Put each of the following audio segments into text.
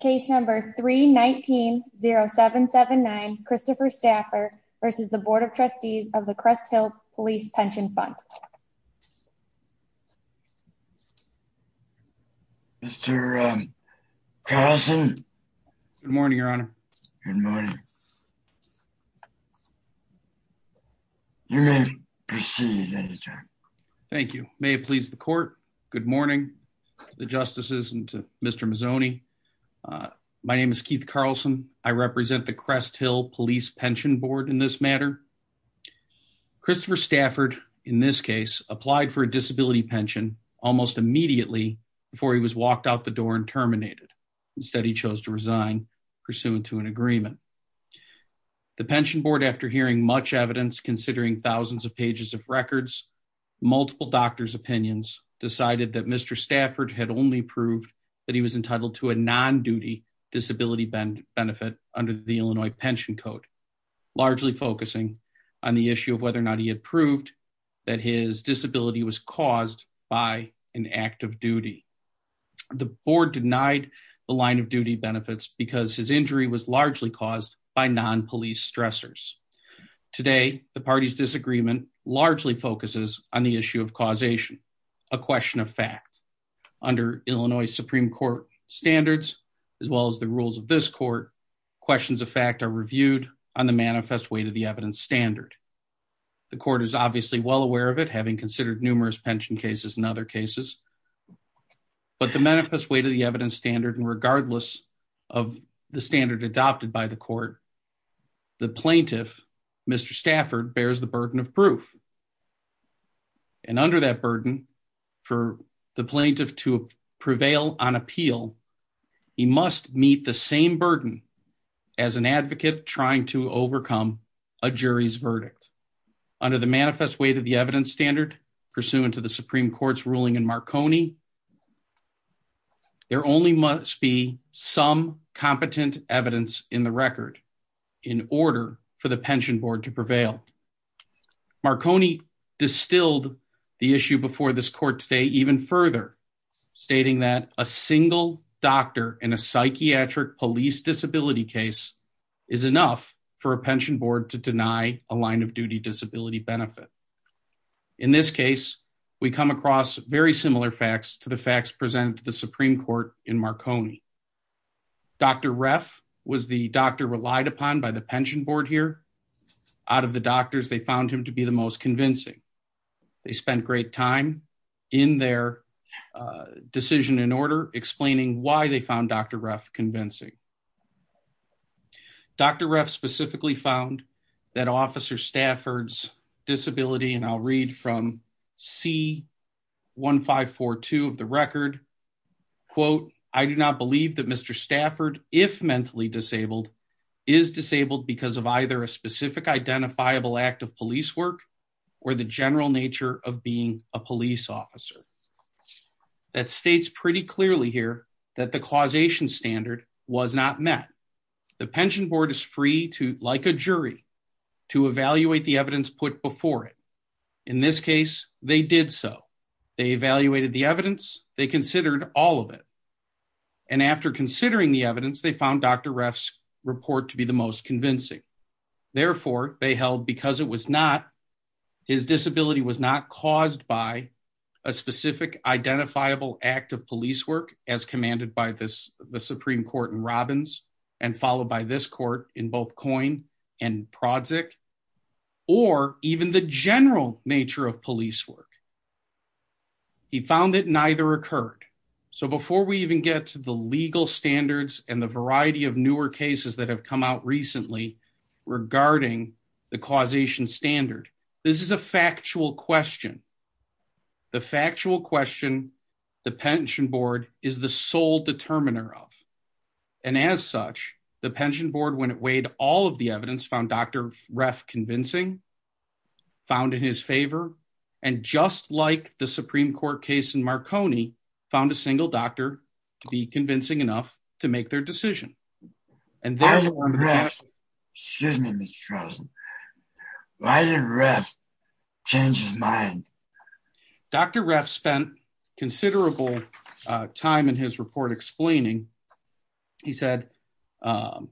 Case number 3190779 Christopher Stafford versus the Board of Trustees of the Crest Hill Police Pension Fund. Mr. Carlson. Good morning, your honor. Good morning. You may proceed at any time. Thank you. May it please the court. Good morning to the justices and to Mr. Mazzoni. My name is Keith Carlson. I represent the Crest Hill Police Pension Board in this matter. Christopher Stafford, in this case, applied for a disability pension almost immediately before he was walked out the door and terminated. Instead, he chose to resign pursuant to an agreement. The Pension Board, after hearing much evidence, considering thousands of was entitled to a non-duty disability benefit under the Illinois Pension Code, largely focusing on the issue of whether or not he had proved that his disability was caused by an act of duty. The board denied the line of duty benefits because his injury was largely caused by non-police stressors. Today, the party's disagreement largely focuses on the issue of causation, a question of fact. Under Illinois Supreme Court standards, as well as the rules of this court, questions of fact are reviewed on the manifest way to the evidence standard. The court is obviously well aware of it, having considered numerous pension cases and other cases, but the manifest way to the evidence standard, and regardless of the standard adopted by the court, the plaintiff, Mr. Stafford, bears the burden of proof. And under that burden, for the plaintiff to prevail on appeal, he must meet the same burden as an advocate trying to overcome a jury's verdict. Under the manifest way to the evidence standard, pursuant to the Supreme Court's ruling in Marconi, there only must be some competent evidence in the record in order for the pension board to prevail. Marconi distilled the issue before this court today even further, stating that a single doctor in a psychiatric police disability case is enough for a pension board to deny a line of similar facts to the facts presented to the Supreme Court in Marconi. Dr. Reff was the doctor relied upon by the pension board here. Out of the doctors, they found him to be the most convincing. They spent great time in their decision in order, explaining why they found Dr. Reff convincing. Dr. Reff specifically found that Officer Stafford's disability, and I'll read from C-1542 of the record, quote, I do not believe that Mr. Stafford, if mentally disabled, is disabled because of either a specific identifiable act of police work or the general nature of being a police officer. That states pretty clearly here that the causation standard was not met. The pension board is free to, like a jury, to evaluate the evidence put before it. In this case, they did so. They evaluated the evidence. They considered all of it. And after considering the evidence, they found Dr. Reff's report to be the most convincing. Therefore, they held because it was not, his disability was not caused by a specific identifiable act of police work as commanded by this, the Supreme Court in Robbins and followed by this court in both Coyne and Prodzik, or even the general nature of police work. He found that neither occurred. So before we even get to the legal standards and the variety of newer cases that have come out recently regarding the causation standard, this is a factual question. The factual question the pension board is the sole determiner of, and as such, the pension board, when it weighed all of the evidence, found Dr. Reff convincing, found in his favor, and just like the Supreme Court case in Marconi, found a single doctor to be convincing enough to make their decision. And then- Why did Reff, excuse me, Mr. Rosen, why did Reff change his mind? Dr. Reff spent considerable time in his report explaining, he said on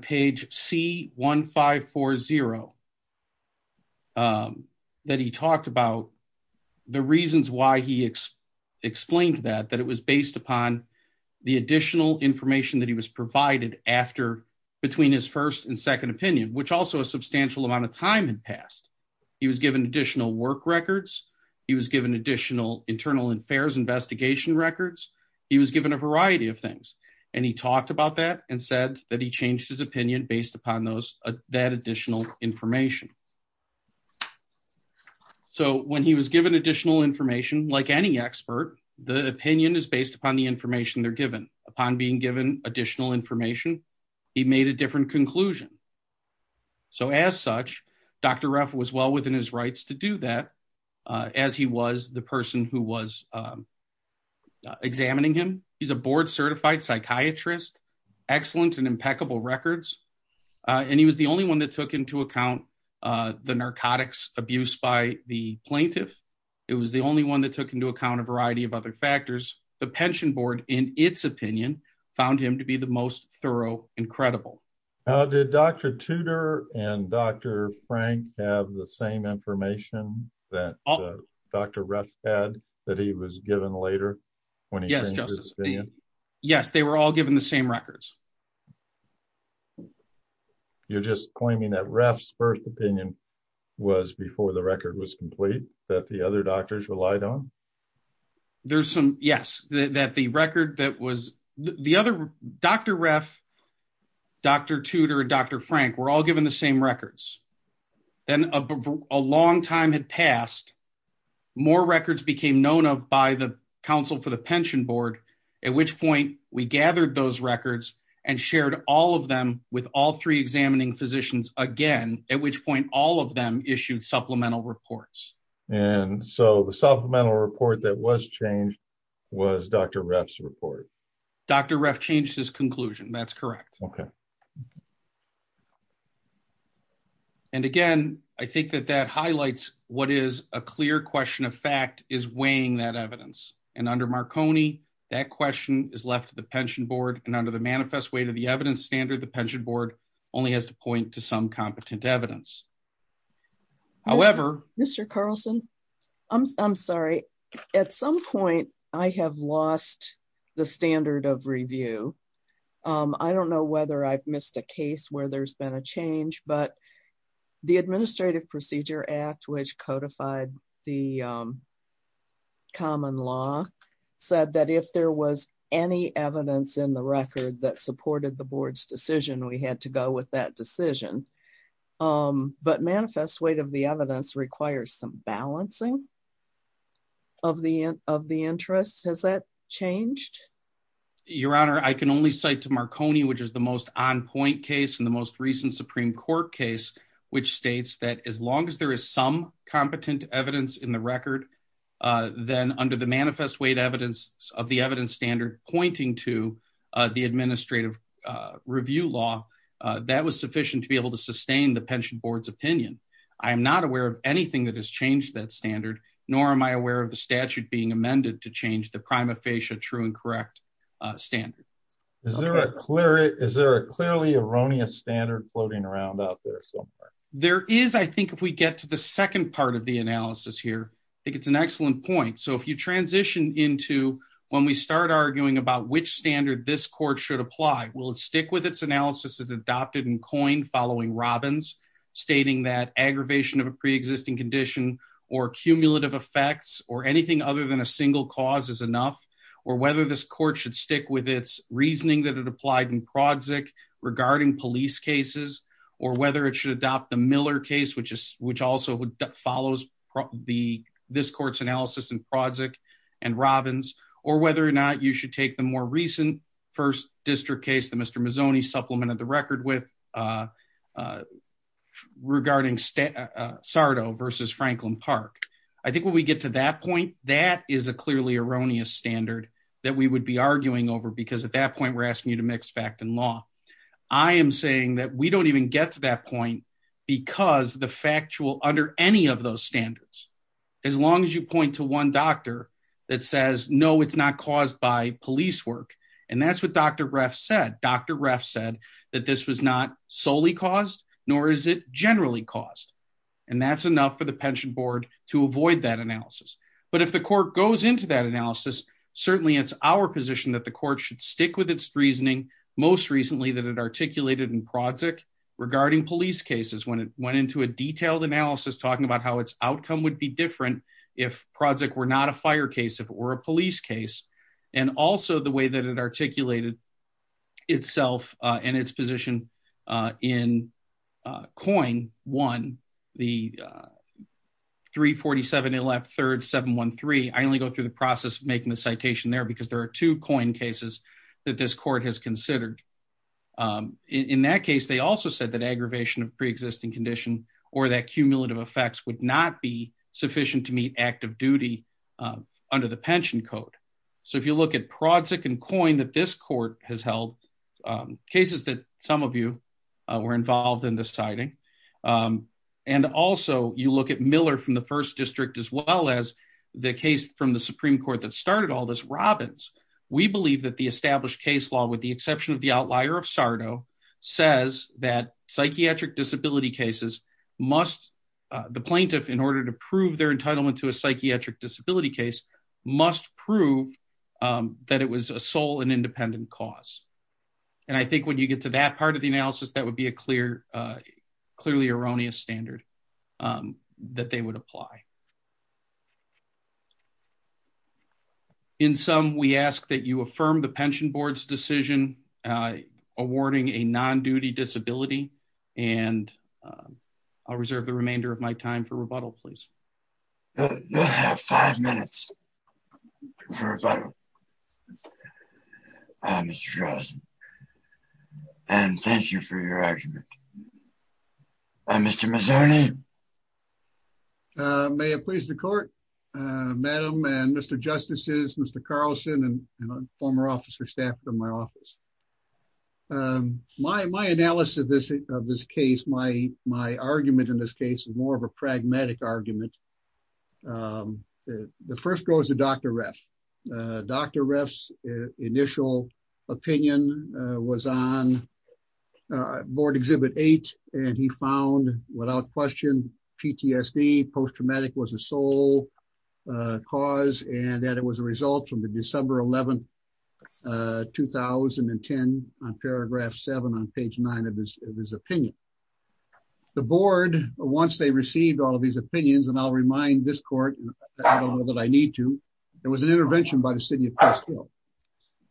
page C1540 that he talked about the reasons why he explained that, that it was based upon the additional information that he was provided after, between his first and second opinion, which also a substantial amount of time had passed. He was given additional work records. He was given additional internal affairs investigation records. He was given a variety of things. And he talked about that and said that he changed his opinion based upon those, that additional information. So when he was given additional information, like any expert, the opinion is based upon the information they're given. Upon being given additional information, he made a different conclusion. So as such, Dr. Reff was well within his rights to do that, as he was the person who was examining him. He's a board certified psychiatrist, excellent and impeccable records. And he was the only one that took into account the narcotics abuse by the plaintiff. It was the only one that took into account a variety of other factors. The pension board, in its opinion, found him to be the most thorough and credible. Did Dr. Tudor and Dr. Frank have the same information that Dr. Ruff had that he was given later when he changed his opinion? Yes, they were all given the same records. You're just claiming that Ruff's first opinion was before the record was complete, that the other doctors relied on? Yes. Dr. Ruff, Dr. Tudor and Dr. Frank were all given the same records. Then a long time had passed, more records became known of by the council for the pension board, at which point we gathered those records and shared all of them with all three examining physicians again, at which point all of them issued supplemental reports. So the supplemental report that was changed was Dr. Ruff's report. Dr. Ruff changed his conclusion. That's correct. And again, I think that that highlights what is a clear question of fact is weighing that evidence. And under Marconi, that question is left to the pension board and under the manifest weight of the evidence standard, the pension board only has to point to some I'm sorry, at some point, I have lost the standard of review. I don't know whether I've missed a case where there's been a change, but the Administrative Procedure Act, which codified the common law, said that if there was any evidence in the record that supported the board's decision, we had to go with that decision. But manifest weight of the evidence requires some balancing of the of the interests. Has that changed? Your Honor, I can only cite to Marconi, which is the most on point case in the most recent Supreme Court case, which states that as long as there is some competent evidence in the record, then under the manifest weight evidence of the evidence standard pointing to the administrative review law, that was sufficient to be able to sustain the pension board's opinion. I am not aware of anything that has changed that standard, nor am I aware of the statute being amended to change the prima facie true and correct standard. Is there a clearly erroneous standard floating around out there somewhere? There is, I think if we get to the second part of the analysis here, I think it's an excellent point. So if you transition into when we start arguing about which standard this court should aggravation of a pre existing condition or cumulative effects or anything other than a single cause is enough, or whether this court should stick with its reasoning that it applied in project regarding police cases, or whether it should adopt the Miller case, which is which also follows the this court's analysis and project and Robbins, or whether or not you should take the more recent first district case that Mr Mazzoni supplemented the record with a, uh, regarding, uh, Sardo versus Franklin park. I think when we get to that point, that is a clearly erroneous standard that we would be arguing over because at that point we're asking you to mix fact and law. I am saying that we don't even get to that point because the factual under any of those standards, as long as you point to one doctor that says, no, it's not caused by police work. And that's what dr ref said, dr ref said that this was not solely caused nor is it generally caused. And that's enough for the pension board to avoid that analysis. But if the court goes into that analysis, certainly it's our position that the court should stick with its reasoning. Most recently that it articulated in project regarding police cases, when it went into a detailed analysis, talking about how its outcome would be different if project were not a fire case, if it were a police case and also the way that it articulated itself, uh, and its position, uh, in, uh, coin one, the, uh, three 47 left third seven one three. I only go through the process of making the citation there because there are two coin cases that this court has considered. Um, in that case, they also said that aggravation of preexisting condition or that cumulative effects would not be sufficient to meet active duty, um, under the pension code. So if you look at project and coin that this court has held, um, cases that some of you, uh, were involved in deciding, um, and also you look at Miller from the first district, as well as the case from the Supreme court that started all this Robbins. We believe that the established case law with exception of the outlier of Sardo says that psychiatric disability cases must, uh, the plaintiff in order to prove their entitlement to a psychiatric disability case must prove, um, that it was a sole and independent cause. And I think when you get to that part of the analysis, that would be a clear, uh, clearly erroneous standard, um, that they would apply. Okay. In some, we ask that you affirm the pension board's decision, uh, awarding a non-duty disability. And, um, I'll reserve the remainder of my time for rebuttal, please. You'll have five minutes for rebuttal. Um, and thank you for your argument. Uh, Mr. Mazzoni. Um, uh, may it please the court, uh, madam and Mr. Justices, Mr. Carlson and former officer staff from my office. Um, my, my analysis of this, of this case, my, my argument in this case is more of a pragmatic argument. Um, the first goes to Dr. Ref, uh, Dr. Ref's initial opinion, uh, was on, uh, board exhibit eight. And he found without question PTSD post-traumatic was a sole, uh, cause and that it was a result from the December 11th, uh, 2010 on paragraph seven, on page nine of his, of his opinion, the board, once they received all of these opinions, and I'll remind this court that I need to, there was an intervention by the city. Well,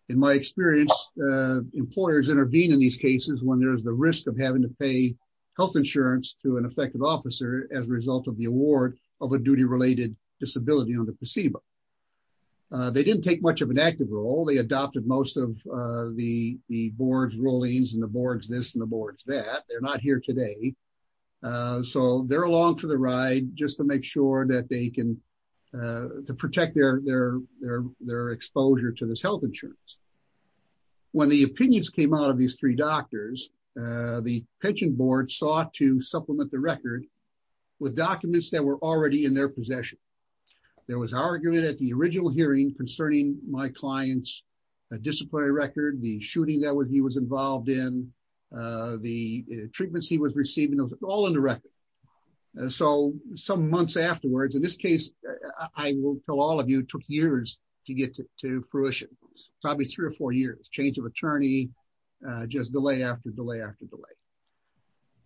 in my experience, uh, employers intervene in these cases when there's the risk of having to pay health insurance to an effective officer as a result of the award of a duty related disability on the placebo. Uh, they didn't take much of an active role. They adopted most of, uh, the, the board's rulings and the boards, this and the boards that they're not here today. Uh, so they're along for the ride just to make sure that they can, uh, to protect their, their, their exposure to this health insurance. When the opinions came out of these three doctors, uh, the pension board sought to supplement the record with documents that were already in their possession. There was argument at the original hearing concerning my client's disciplinary record, the shooting that he was involved in, uh, the treatments he was receiving all in the record. And so some months afterwards, in this case, I will tell all of you took years to get to fruition, probably three or four years, change of attorney, uh, just delay after delay, after delay.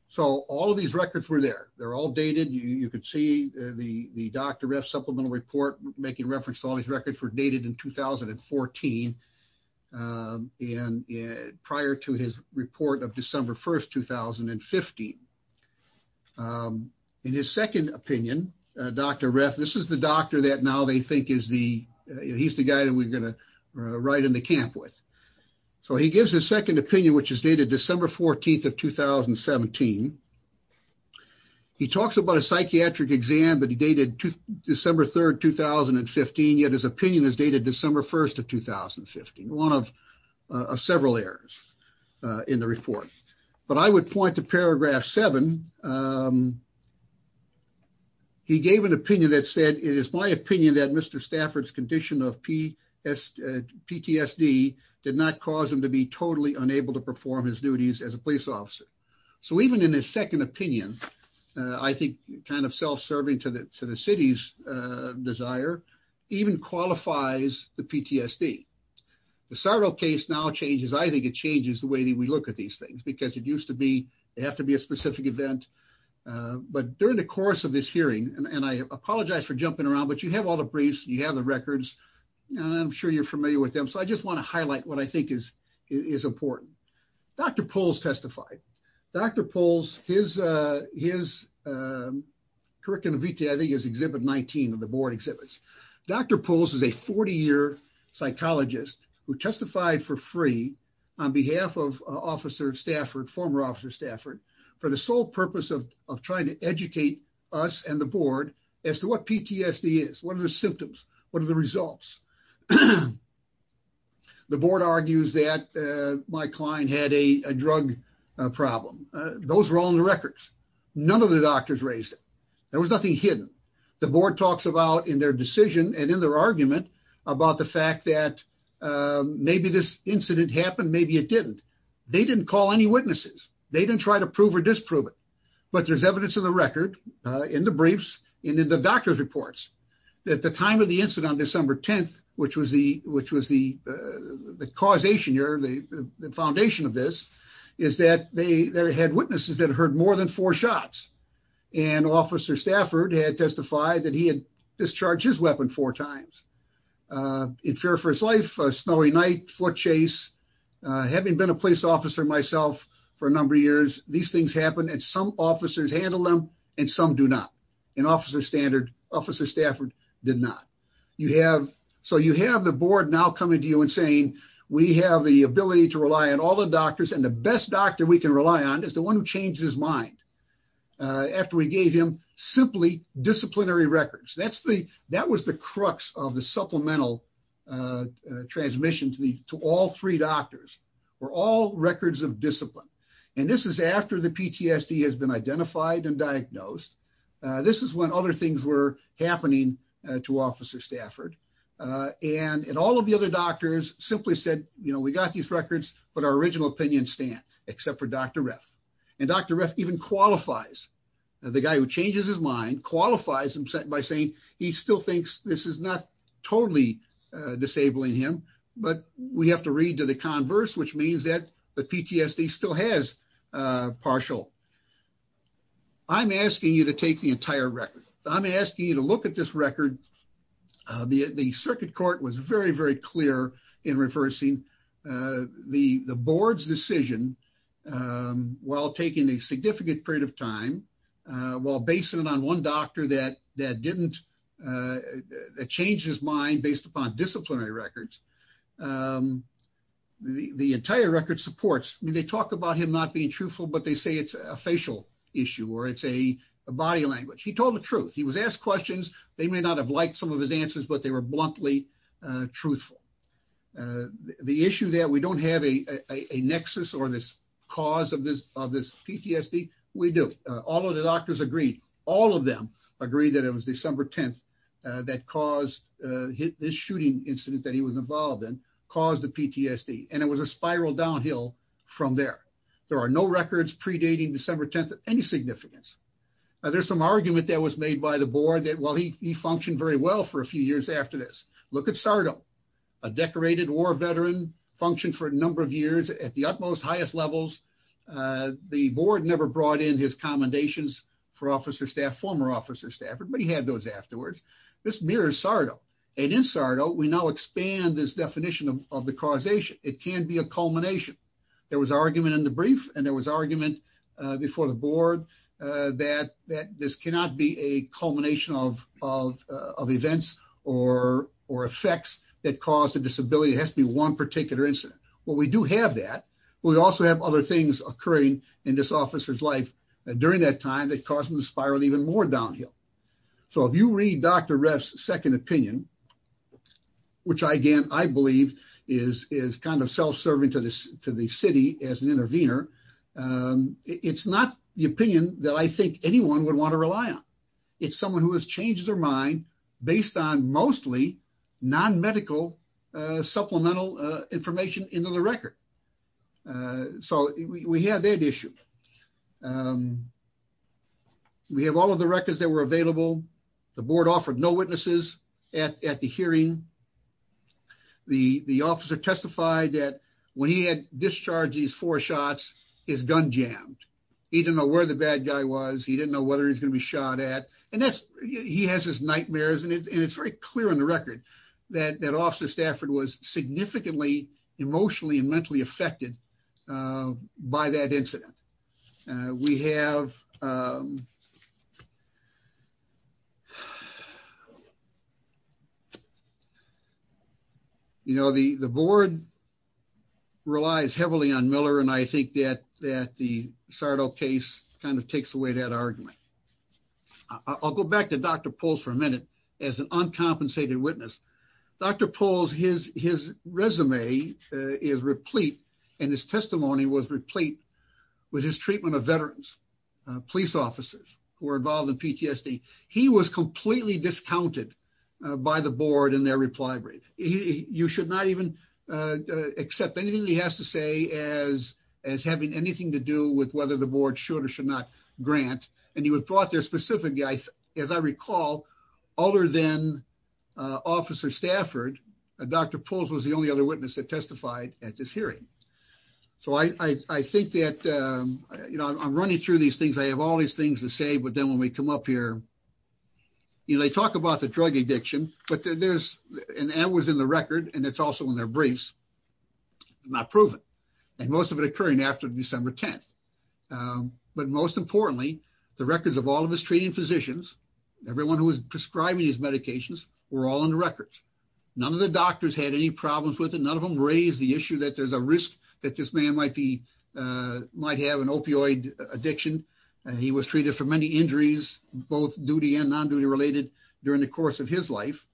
So all of these records were there. They're all dated. You could see the, the doctor ref supplemental report making reference to all these records were dated in 2014. Um, and prior to his report of December 1st, 2015, um, in his second opinion, uh, Dr. Ref, this is the doctor that now they think is the, uh, he's the guy that we're going to ride in the camp with. So he gives his second opinion, which is dated December 14th of 2017. He talks about a psychiatric exam, but he dated to December 3rd, 2015. Yet his opinion is dated December 1st of 2015, one of, uh, several errors, uh, in the report, but I would point to paragraph seven. Um, he gave an opinion that said, it is my opinion that Mr. Stafford's condition of P S PTSD did not cause him to be totally unable to perform his duties as a police officer. So even in his second opinion, uh, I think kind of self to the city's, uh, desire even qualifies the PTSD. The sorrow case now changes. I think it changes the way that we look at these things because it used to be, it has to be a specific event. Uh, but during the course of this hearing, and I apologize for jumping around, but you have all the briefs, you have the records and I'm sure you're familiar with them. So I just want to exhibit 19 of the board exhibits. Dr. Pulse is a 40 year psychologist who testified for free on behalf of officer Stafford, former officer Stafford for the sole purpose of trying to educate us and the board as to what PTSD is. What are the symptoms? What are the results? The board argues that, uh, my client had a drug problem. Those were all in the records. None of the doctors raised it. There was nothing hidden. The board talks about in their decision and in their argument about the fact that, um, maybe this incident happened. Maybe it didn't, they didn't call any witnesses. They didn't try to prove or disprove it, but there's evidence of the record, uh, in the briefs and in the doctor's reports that the time of the incident on December 10th, which was the, which was the, uh, the causation the foundation of this is that they had witnesses that heard more than four shots and officer Stafford had testified that he had discharged his weapon four times, uh, in fear for his life, a snowy night, foot chase, uh, having been a police officer myself for a number of years, these things happen at some officers handle them and some do not. And officer standard officer Stafford did not. You have, so you have the board now coming to you saying we have the ability to rely on all the doctors and the best doctor we can rely on is the one who changed his mind. Uh, after we gave him simply disciplinary records, that's the, that was the crux of the supplemental, uh, transmission to the, to all three doctors were all records of discipline. And this is after the PTSD has been identified and diagnosed. Uh, this is when other things were happening to officer Stafford. Uh, and, and all of the other doctors simply said, you know, we got these records, but our original opinion stand except for Dr. Ref and Dr. Ref even qualifies the guy who changes his mind qualifies him by saying he still thinks this is not totally disabling him, but we have to read to the converse, which means that the PTSD still has a partial. I'm asking you to take the entire record. I'm asking you to look at this record. The, the circuit court was very, very clear in reversing, uh, the, the board's decision, um, while taking a significant period of time, uh, while basing it on one doctor that, that didn't, uh, that changed his mind based upon disciplinary records. Um, the, the entire record supports, they talk about him not being truthful, but they say it's a facial issue or it's a body language. He told the truth. He was asked questions. They may not have liked some of his answers, but they were bluntly, uh, truthful, uh, the issue that we don't have a, a nexus or this cause of this, of this PTSD. We do all of the doctors agree. All of them agree that it was December 10th, uh, that caused, uh, hit this shooting incident that he was involved in caused the PTSD. And it was a spiral downhill from there. There are no records predating December 10th at any significance. Uh, there's some argument that was made by the board that while he, he functioned very well for a few years after this, look at Sardo, a decorated war veteran functioned for a number of years at the utmost highest levels. Uh, the board never brought in his commendations for officer staff, former officer staff, but he had those afterwards. This mirrors Sardo and in Sardo, we now expand this definition of the causation. It can be a culmination. There was argument in the brief and there was argument before the board, uh, that, that this cannot be a culmination of, of, uh, of events or, or effects that caused the disability. It has to be one particular incident. Well, we do have that. We also have other things occurring in this officer's life during that time that caused him to spiral even more downhill. So if you read Dr. Ref's second opinion, which I, again, I believe is, is kind of self-serving to this, to the city as an intervener. Um, it's not the opinion that I think anyone would want to rely on. It's someone who has changed their mind based on mostly non-medical, uh, supplemental, uh, information into the record. Uh, so we have that issue. Um, we have all of the records that were available. The board offered no witnesses at, at the hearing. The, the officer testified that when he had discharged these four shots, his gun jammed, he didn't know where the bad guy was. He didn't know whether he's going to be shot at. And that's, he has his nightmares and it's, and it's very clear on the record that that officer Stafford was significantly emotionally and mentally affected, uh, by that incident. Uh, we have, um, you know, the, the board relies heavily on Miller. And I think that, that the Sardo case kind of takes away that argument. I'll go back to Dr. Pulse for a minute as an uncompensated witness. Dr. Pulse, his, his resume is replete and his testimony was replete with his treatment of veterans, uh, police officers who were involved in PTSD. He was completely discounted by the board and their reply rate. You should not even, uh, accept anything that he has to say as, as having anything to do with whether the board should or should not grant. And he was brought there as I recall, other than, uh, officer Stafford, uh, Dr. Pulse was the only other witness that testified at this hearing. So I, I, I think that, um, you know, I'm running through these things. I have all these things to say, but then when we come up here, you know, they talk about the drug addiction, but there's, and that was in the record. And it's also in their briefs, not proven. And most of it occurring after December 10th. Um, but most importantly, the records of all of his treating physicians, everyone who was prescribing his medications were all in the records. None of the doctors had any problems with it. None of them raised the issue that there's a risk that this man might be, uh, might have an opioid addiction. And he was treated for many injuries, both duty and non-duty related during the course of his life.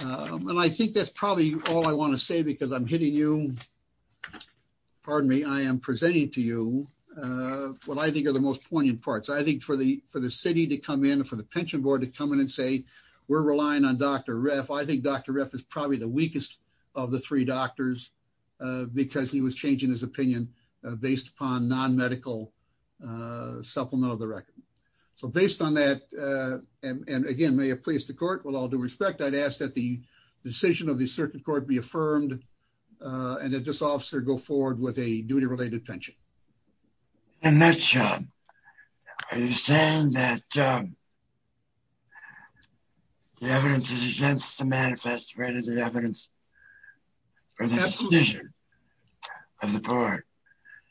Um, and I think that's probably all I want to say because I'm hitting you, uh, pardon me. I am presenting to you, uh, what I think are the most poignant parts. I think for the, for the city to come in and for the pension board to come in and say, we're relying on Dr. Ref. I think Dr. Ref is probably the weakest of the three doctors, uh, because he was changing his opinion, uh, based upon non-medical, uh, supplement of the record. So based on that, uh, and, and again, may have placed the court with all due respect. I'd asked that the decision of the court be affirmed, uh, and that this officer go forward with a duty related pension. And that's, um, are you saying that, um, the evidence is against the manifest, right? Is the evidence of the board?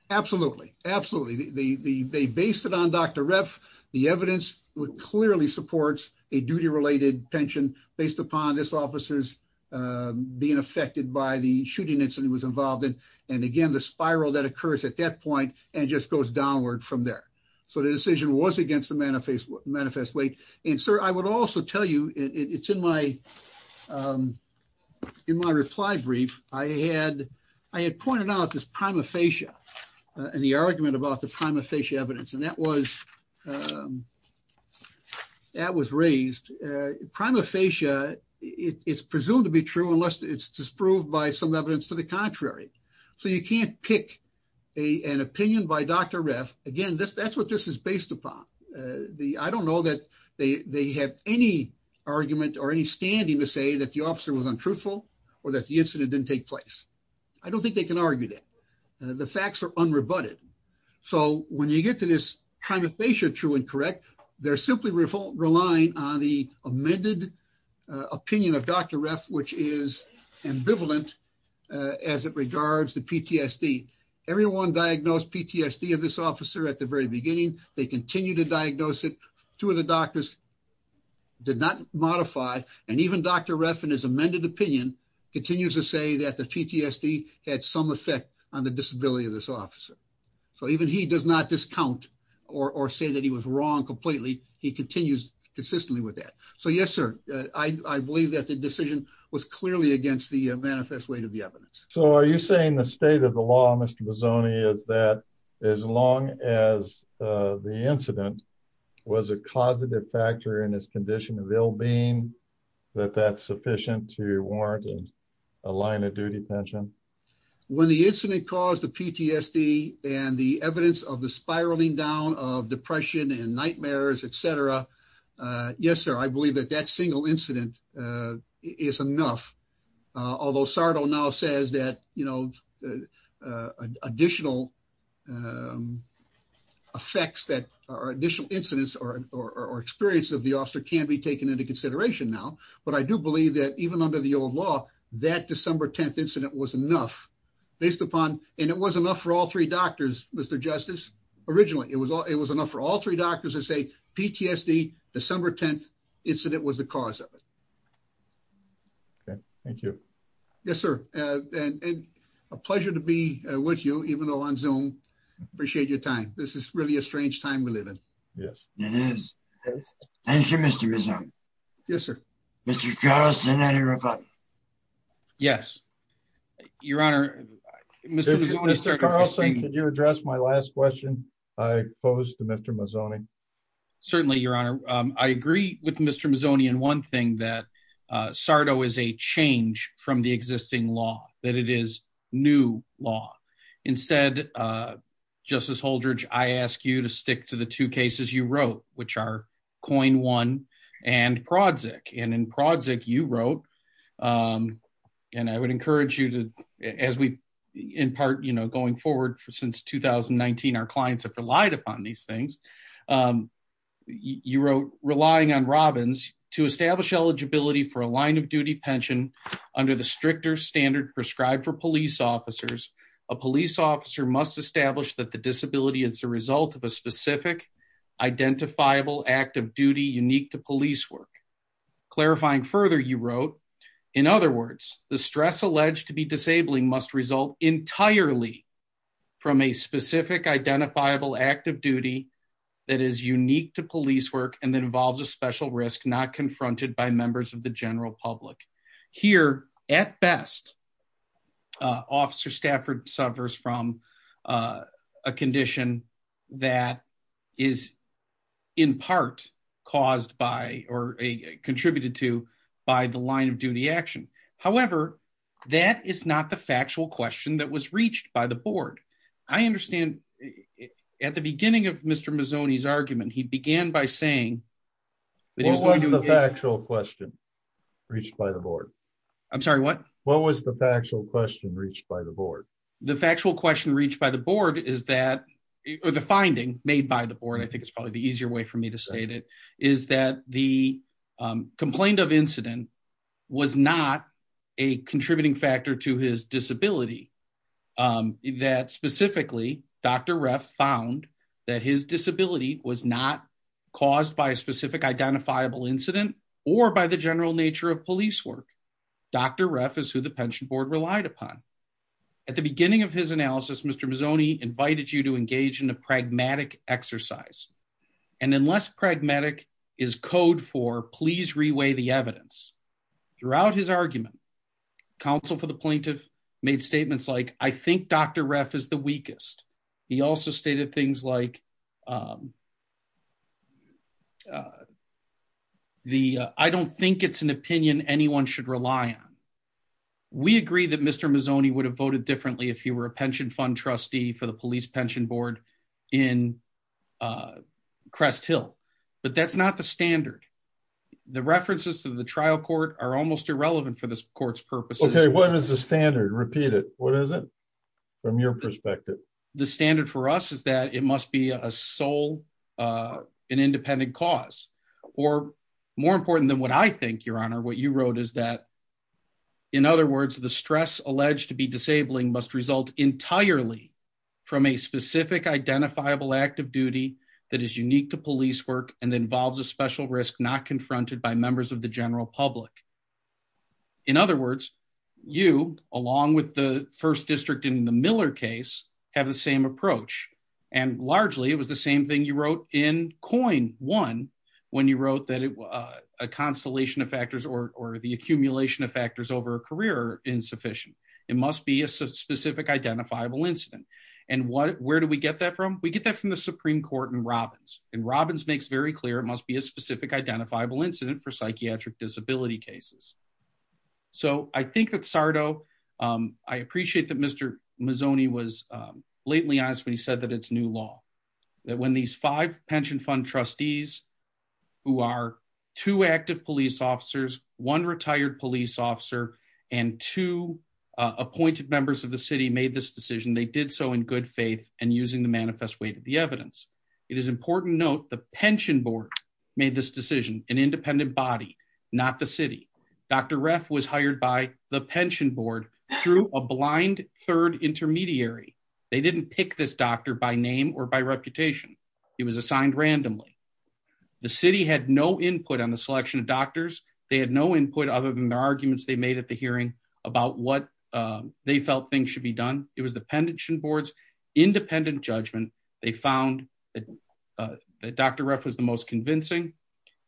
Absolutely. Absolutely. The, the, they based it on Dr. Ref, the evidence would clearly supports a duty related pension based upon this officer's, um, being affected by the shooting incident was involved in. And again, the spiral that occurs at that point and just goes downward from there. So the decision was against the manifest manifest weight. And sir, I would also tell you it's in my, um, in my reply brief, I had, I had pointed out this prima facie and the argument about the prima facie evidence. And that was, um, that was raised, uh, prima facie it's presumed to be true unless it's disproved by some evidence to the contrary. So you can't pick a, an opinion by Dr. Ref again, this, that's what this is based upon. Uh, the, I don't know that they have any argument or any standing to say that the officer was untruthful or that the incident didn't take place. I don't think they can argue that the facts are unrebutted. So when you get to this kind of patient true and correct, they're simply relying on the amended opinion of Dr. Ref, which is ambivalent, uh, as it regards the PTSD, everyone diagnosed PTSD of this officer at the very beginning, they continue to diagnose it. Two of the doctors did not modify. And even Dr. Ref in his amended opinion continues to say that PTSD had some effect on the disability of this officer. So even he does not discount or say that he was wrong completely. He continues consistently with that. So yes, sir, I believe that the decision was clearly against the manifest way to the evidence. So are you saying the state of the law, Mr. Bozzone is that as long as, uh, the incident was a causative factor in his condition of ill being that that's sufficient to warrant a line of duty pension? When the incident caused the PTSD and the evidence of the spiraling down of depression and nightmares, et cetera. Uh, yes, sir. I believe that that single incident, uh, is enough. Although Sardo now says that, you know, uh, additional, um, effects that are additional incidents or, or, or experience of the officer can be taken into consideration now, but I do believe that even under the old law, that December 10th incident was enough based upon, and it was enough for all three doctors, Mr. Justice originally, it was all, it was enough for all three doctors to say PTSD, December 10th incident was the cause of it. Okay. Thank you. Yes, sir. Uh, and, and a pleasure to be with you, even though on zoom appreciate your time. This is really a Yes, it is. Thank you, Mr. Yes, sir. Mr. Yes, your honor. Mr. Could you address my last question? I posed to Mr. Mazoni. Certainly your honor. Um, I agree with Mr. Mazoni. And one thing that, uh, Sardo is a change from the existing law that it is new law instead, uh, I ask you to stick to the two cases you wrote, which are coin one and Prodzik. And in Prodzik, you wrote, um, and I would encourage you to, as we in part, you know, going forward for, since 2019, our clients have relied upon these things. Um, you wrote relying on Robbins to establish eligibility for a line of duty pension under the stricter standard prescribed for police officers. A police officer must establish that the disability is a result of a specific identifiable act of duty, unique to police work clarifying further. You wrote in other words, the stress alleged to be disabling must result entirely from a specific identifiable active duty that is unique to police work. And that involves a special risk, not confronted by members of the subverse from, uh, a condition that is in part caused by, or a contributed to by the line of duty action. However, that is not the factual question that was reached by the board. I understand at the beginning of Mr. Mazzoni's argument, he began by saying, what was the factual question reached by the board? I'm sorry, what, what was the factual question reached by the board? The factual question reached by the board is that, or the finding made by the board, I think it's probably the easier way for me to state it is that the, um, complained of incident was not a contributing factor to his disability. Um, that specifically Dr. Ref found that his disability was not caused by a specific identifiable incident or by the at the beginning of his analysis, Mr. Mazzoni invited you to engage in a pragmatic exercise. And unless pragmatic is code for please reweigh the evidence throughout his argument, counsel for the plaintiff made statements like, I think Dr. Ref is the weakest. He also stated things like, um, uh, the, uh, I don't think it's an opinion anyone should rely on. We agree that Mr. Mazzoni would have voted differently. If you were a pension fund trustee for the police pension board in, uh, crest Hill, but that's not the standard. The references to the trial court are almost irrelevant for this court's purposes. What is the standard? Repeat it. What is it from your perspective? The standard for us is that it must be a soul, uh, an independent cause or more important than what I think your honor, what you wrote is that in other words, the stress to be disabling must result entirely from a specific identifiable act of duty. That is unique to police work and involves a special risk not confronted by members of the general public. In other words, you, along with the first district in the Miller case have the same approach. And largely it was the same thing you wrote in coin one, when you wrote that it was a constellation of factors or, or the accumulation of factors over a career insufficient, it must be a specific identifiable incident. And what, where do we get that from? We get that from the Supreme court and Robbins and Robbins makes very clear. It must be a specific identifiable incident for psychiatric disability cases. So I think that Sardo, um, I appreciate that Mr. Mazzoni was, um, blatantly honest when he said that it's new law that when these five two appointed members of the city made this decision, they did so in good faith and using the manifest way to the evidence. It is important note. The pension board made this decision, an independent body, not the city. Dr. Ref was hired by the pension board through a blind third intermediary. They didn't pick this doctor by name or by reputation. He was assigned randomly. The city had no input on the selection of doctors. They had no input other than the arguments they at the hearing about what, um, they felt things should be done. It was the pension boards independent judgment. They found that, uh, that Dr. Ref was the most convincing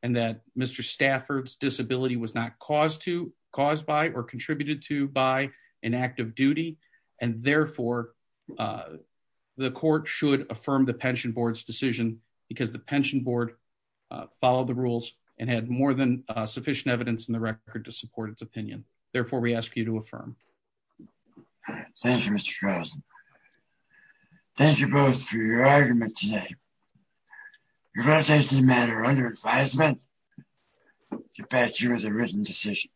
and that Mr. Stafford's disability was not caused to cause by or contributed to by an active duty. And therefore, uh, the court should affirm the pension board's decision because the pension board, uh, followed rules and had more than sufficient evidence in the record to support its opinion. Therefore, we ask you to affirm. Thank you, Mr. Charles. Thank you both for your argument today. You're going to take this matter under advisement to pass you as a written decision.